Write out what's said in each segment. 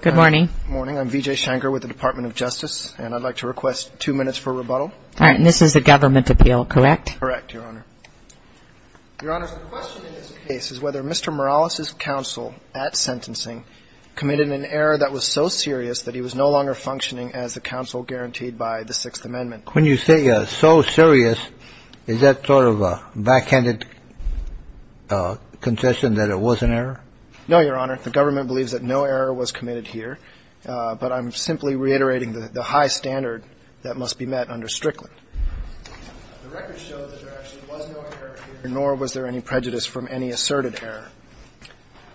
Good morning. I'm Vijay Shankar with the Department of Justice, and I'd like to request two minutes for rebuttal. All right. And this is a government appeal, correct? Correct, Your Honor. Your Honor, the question in this case is whether Mr. Morales' counsel at sentencing committed an error that was so serious that he was no longer functioning as the counsel guaranteed by the Sixth Amendment. When you say so serious, is that sort of a backhanded concession that it was an error? No, Your Honor. The government believes that no error was committed here, but I'm simply reiterating the high standard that must be met under Strickland. The record shows that there actually was no error here, nor was there any prejudice from any asserted error.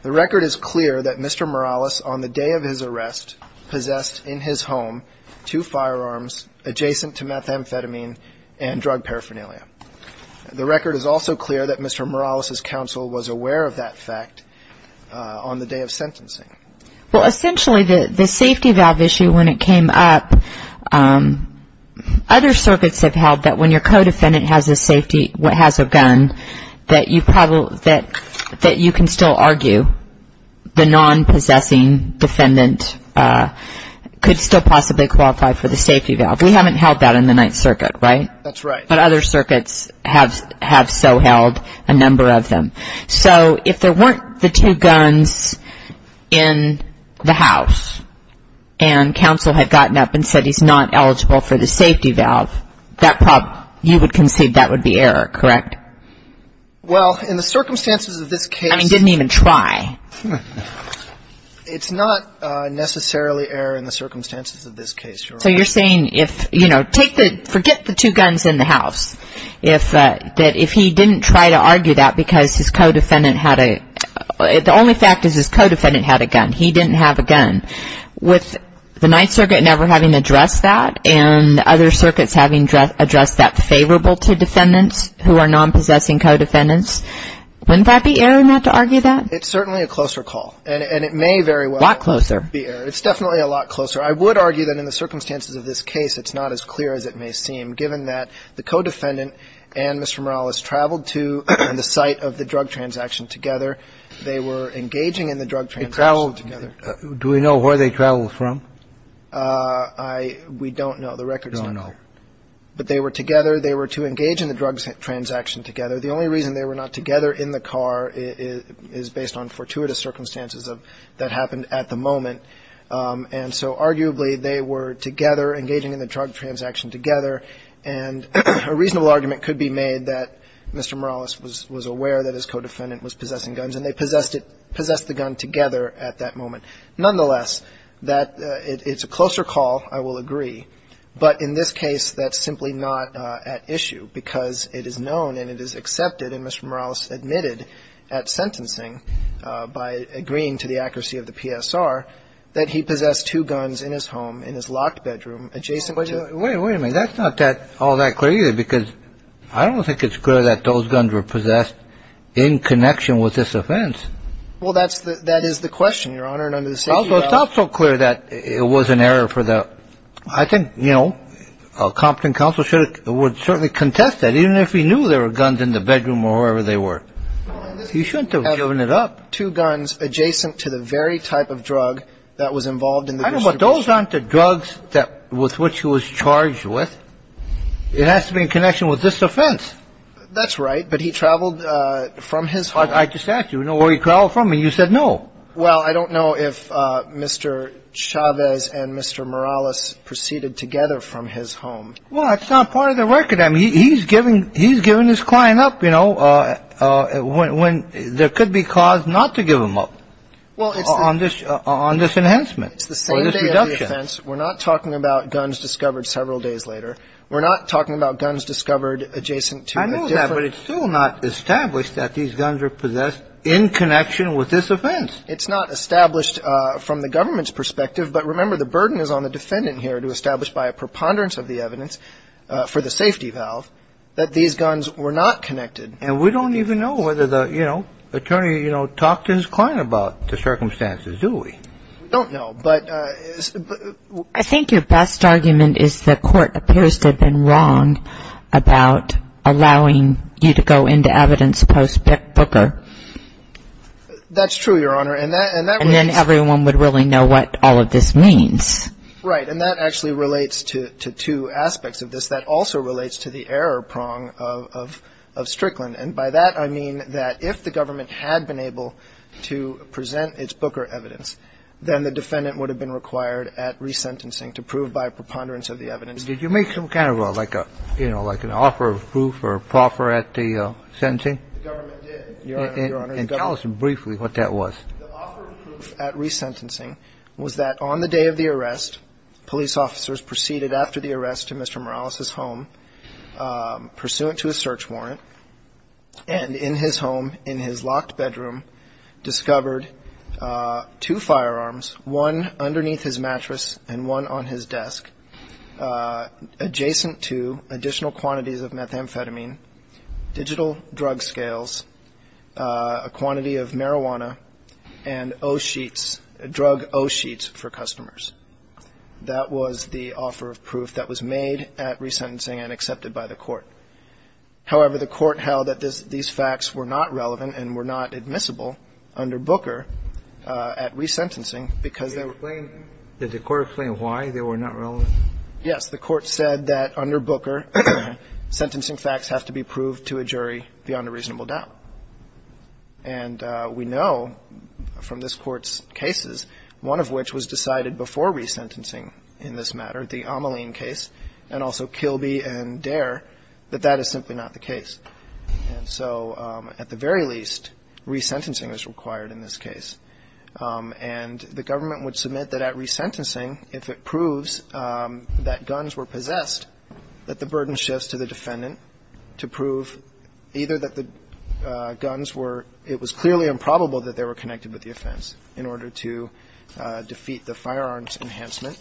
The record is clear that Mr. Morales, on the day of his arrest, possessed in his home two firearms adjacent to methamphetamine and drug paraphernalia. The record is also clear that Mr. Morales' counsel was aware of that fact on the day of sentencing. Well, essentially, the safety valve issue, when it came up, other circuits have held that when your co-defendant has a safety, has a gun, that you can still argue the non-possessing defendant could still possibly qualify for the safety valve. We haven't held that in the Ninth Circuit, right? That's right. But other circuits have so held a number of them. So if there weren't the two guns in the house and counsel had gotten up and said he's not eligible for the safety valve, that problem, you would concede that would be error, correct? Well, in the circumstances of this case — I mean, didn't even try. It's not necessarily error in the circumstances of this case, Your Honor. So you're saying, you know, forget the two guns in the house. If he didn't try to argue that because his co-defendant had a — the only fact is his co-defendant had a gun. He didn't have a gun. With the Ninth Circuit never having addressed that and other circuits having addressed that favorable to defendants who are non-possessing co-defendants, wouldn't that be error not to argue that? It's certainly a closer call. And it may very well — A lot closer. — be error. It's definitely a lot closer. I would argue that in the circumstances of this case, it's not as clear as it may seem, given that the co-defendant and Mr. Morales traveled to the site of the drug transaction together. They were engaging in the drug transaction together. Do we know where they traveled from? I — we don't know. The record's not there. We don't know. But they were together. They were to engage in the drug transaction together. The only reason they were not together in the car is based on fortuitous circumstances of — that happened at the moment. And so, arguably, they were together, engaging in the drug transaction together. And a reasonable argument could be made that Mr. Morales was aware that his co-defendant was possessing guns, and they possessed it — possessed the gun together at that moment. Nonetheless, that — it's a closer call, I will agree. But in this case, that's simply not at issue, because it is known and it is accepted, and Mr. Morales admitted at sentencing, by agreeing to the accuracy of the PSR, that he possessed two guns in his home, in his locked bedroom, adjacent to — Wait a minute. That's not that — all that clear, either, because I don't think it's clear that those guns were possessed in connection with this offense. Well, that's the — that is the question, Your Honor. And under the safety law — Also, it's not so clear that it was an error for the — I think, you know, a competent counsel should have — would certainly contest that, even if he knew there were guns in the bedroom or wherever they were. You shouldn't have given it up. Two guns adjacent to the very type of drug that was involved in the distribution. I don't know, but those aren't the drugs that — with which he was charged with. It has to be in connection with this offense. That's right. But he traveled from his home — I just asked you, you know, where he traveled from, and you said no. Well, I don't know if Mr. Chavez and Mr. Morales proceeded together from his home. Well, it's not part of the record. I mean, he's giving — he's giving his client up, you know, when there could be cause not to give him up on this — on this enhancement or this reduction. It's the same day of the offense. We're not talking about guns discovered several days later. We're not talking about guns discovered adjacent to a different — I know that, but it's still not established that these guns were possessed in connection with this offense. It's not established from the government's perspective. But remember, the burden is on the defendant here to establish by a preponderance of the evidence for the safety valve that these guns were not connected. And we don't even know whether the, you know, attorney, you know, talked to his client about the circumstances, do we? We don't know, but — I think your best argument is the court appears to have been wrong about allowing you to go into evidence post-Booker. That's true, Your Honor, and that — But we don't know what all of this means. Right, and that actually relates to two aspects of this. That also relates to the error prong of Strickland. And by that, I mean that if the government had been able to present its Booker evidence, then the defendant would have been required at resentencing to prove by a preponderance of the evidence — Did you make some kind of a — like a — you know, like an offer of proof or a proffer at the sentencing? The government did, Your Honor. And tell us briefly what that was. The offer of proof at resentencing was that on the day of the arrest, police officers proceeded after the arrest to Mr. Morales' home, pursuant to a search warrant, and in his home, in his locked bedroom, discovered two firearms, one underneath his mattress and one on his desk, adjacent to additional quantities of methamphetamine, digital drug scales, a quantity of marijuana, and O-sheets, drug O-sheets for customers. That was the offer of proof that was made at resentencing and accepted by the court. However, the court held that these facts were not relevant and were not admissible under Booker at resentencing because they were — Explain — did the court explain why they were not relevant? Yes, the court said that under Booker, sentencing facts have to be proved to a jury beyond a reasonable doubt. And we know from this Court's cases, one of which was decided before resentencing in this matter, the Ameline case, and also Kilby and Dare, that that is simply not the case. And so at the very least, resentencing is required in this case. And the government would submit that at resentencing, if it proves that guns were possessed, that the burden shifts to the defendant to prove either that the guns were — it was clearly improbable that they were connected with the offense in order to defeat the firearms enhancement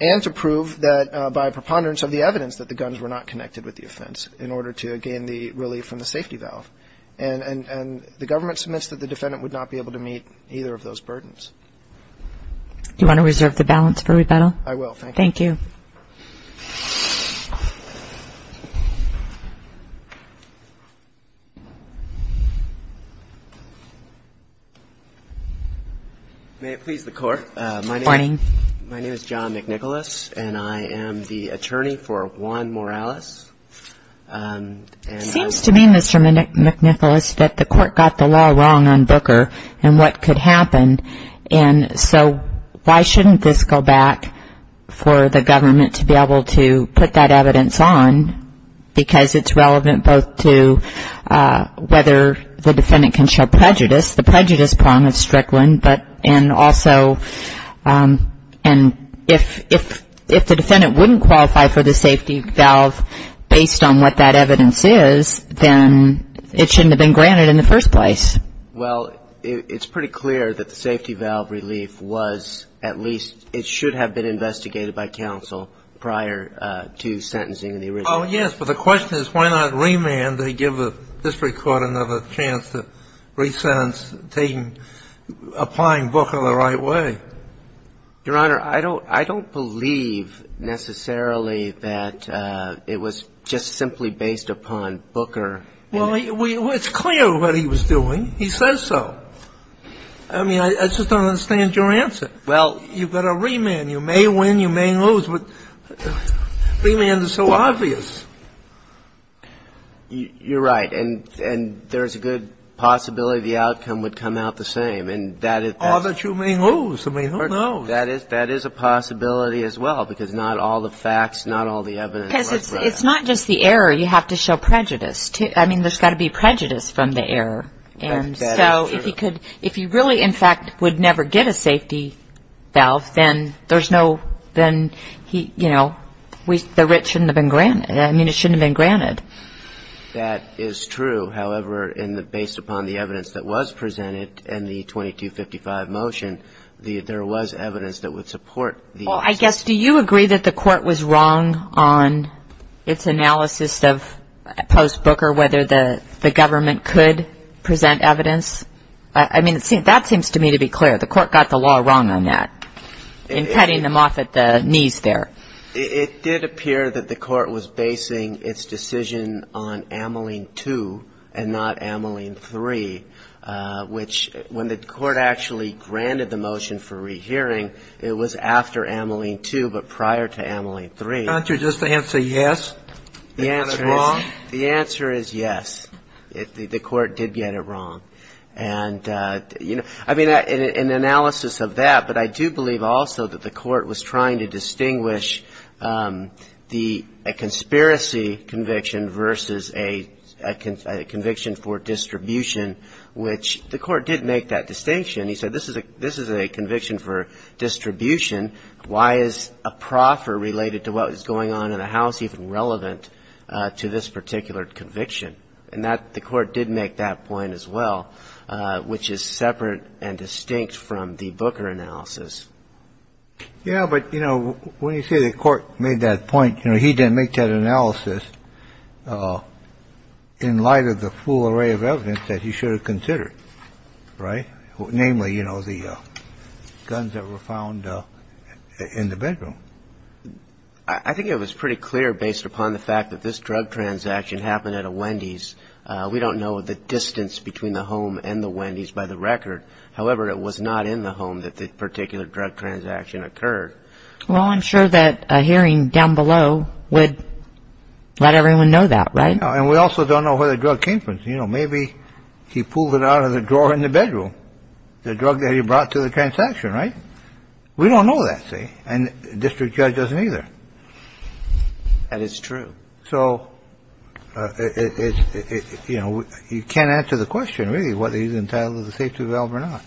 and to prove that by preponderance of the evidence that the guns were not connected with the offense in order to gain the relief from the safety valve. And the government submits that the defendant would not be able to meet either of those Do you want to reserve the balance for rebuttal? I will. Thank you. May it please the Court, my name is John McNicholas, and I am the attorney for Juan Morales. It seems to me, Mr. McNicholas, that the Court got the law wrong on Booker and what could fall back for the government to be able to put that evidence on, because it's relevant both to whether the defendant can show prejudice, the prejudice prong of Strickland, and also — and if the defendant wouldn't qualify for the safety valve based on what that evidence is, then it shouldn't have been granted in the first place. Well, it's pretty clear that the safety valve relief was at least — it should have been investigated by counsel prior to sentencing in the original. Oh, yes, but the question is why not remand? They give the district court another chance to resentence — taking — applying Booker the right way. Your Honor, I don't believe necessarily that it was just simply based upon Booker. Well, it's clear what he was doing. He says so. I mean, I just don't understand your answer. Well, you've got a remand. You may win, you may lose, but remand is so obvious. You're right. And there's a good possibility the outcome would come out the same, and that is — Or that you may lose. I mean, who knows? That is a possibility as well, because not all the facts, not all the evidence Because it's not just the error. You have to show prejudice, too. I mean, there's got to be prejudice from the error. And so if he could — if he really, in fact, would never get a safety valve, then there's no — then he — you know, the writ shouldn't have been granted. I mean, it shouldn't have been granted. That is true. However, based upon the evidence that was presented in the 2255 motion, there was evidence that would support the — Well, I guess, do you agree that the Court was wrong on its analysis of post-Booker, whether the government could present evidence? I mean, that seems to me to be clear. The Court got the law wrong on that, in cutting them off at the knees there. It did appear that the Court was basing its decision on Ameline 2 and not Ameline 3, which when the Court actually granted the motion for rehearing, it was after Ameline 2, but prior to Ameline 3. Can't you just answer yes, and get it wrong? The answer is yes. The Court did get it wrong. And, you know, I mean, in analysis of that, but I do believe also that the Court was trying to distinguish the — a conspiracy conviction versus a conviction for distribution, which the Court did make that distinction. He said this is a conviction for distribution. Why is a proffer related to what was going on in the House even relevant to this particular conviction? And that — the Court did make that point as well, which is separate and distinct from the Booker analysis. Yeah, but, you know, when you say the Court made that point, you know, he didn't make that analysis in light of the full array of evidence that he should have considered, right? Namely, you know, the guns that were found in the bedroom. I think it was pretty clear based upon the fact that this drug transaction happened at a Wendy's. We don't know the distance between the home and the Wendy's by the record. However, it was not in the home that the particular drug transaction occurred. Well, I'm sure that a hearing down below would let everyone know that, right? And we also don't know where the drug came from. You know, maybe he pulled it out of the drawer in the bedroom, the drug that he brought to the transaction, right? We don't know that, say, and the district judge doesn't either. And it's true. So, you know, you can't answer the question, really, whether he's entitled to the safety valve or not.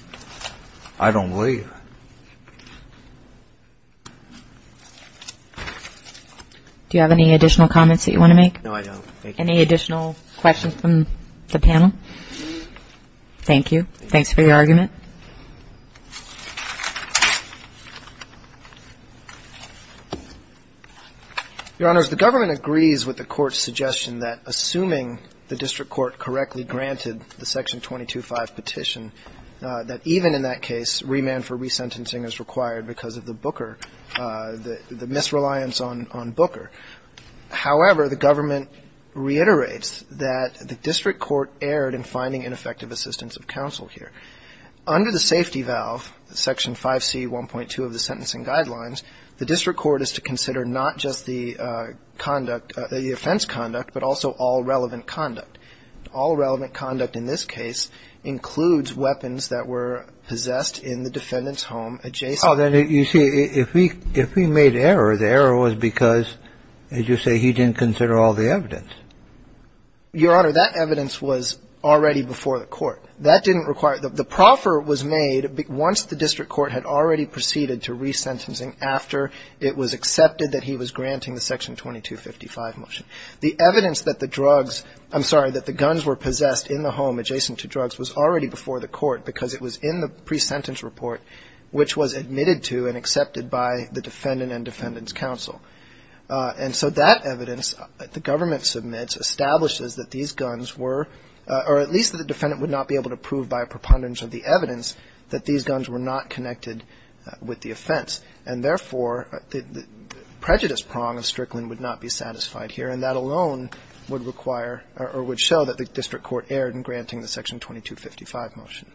I don't believe. Do you have any additional comments that you want to make? No, I don't. Any additional questions from the panel? Thank you. Thanks for your argument. Your Honor, if the government agrees with the court's suggestion that assuming the district court correctly granted the Section 22-5 petition, that even in that case, remand for resentencing is required because of the Booker, the misreliance on Booker. However, the government reiterates that the district court erred in finding ineffective Under the safety valve, Section 5C 1.2 of the Sentencing Guidelines, the district court is to consider not just the conduct, the offense conduct, but also all relevant conduct. All relevant conduct in this case includes weapons that were possessed in the defendant's home adjacent. Oh, then you see, if he made error, the error was because, as you say, he didn't consider all the evidence. Your Honor, that evidence was already before the court. That didn't require, the proffer was made once the district court had already proceeded to resentencing after it was accepted that he was granting the Section 22-55 motion. The evidence that the drugs, I'm sorry, that the guns were possessed in the home adjacent to drugs was already before the court because it was in the pre-sentence report, which was admitted to and establishes that these guns were, or at least that the defendant would not be able to prove by a preponderance of the evidence that these guns were not connected with the offense. And therefore, the prejudice prong of Strickland would not be satisfied here, and that alone would require, or would show that the district court erred in granting the Section 22-55 motion.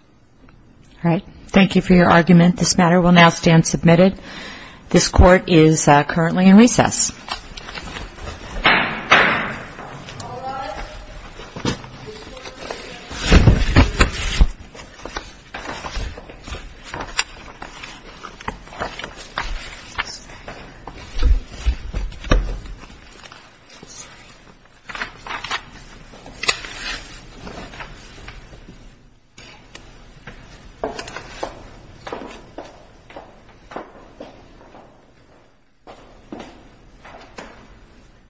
All right. Thank you for your argument. This matter will now stand submitted. This court is currently in recess. Thank you.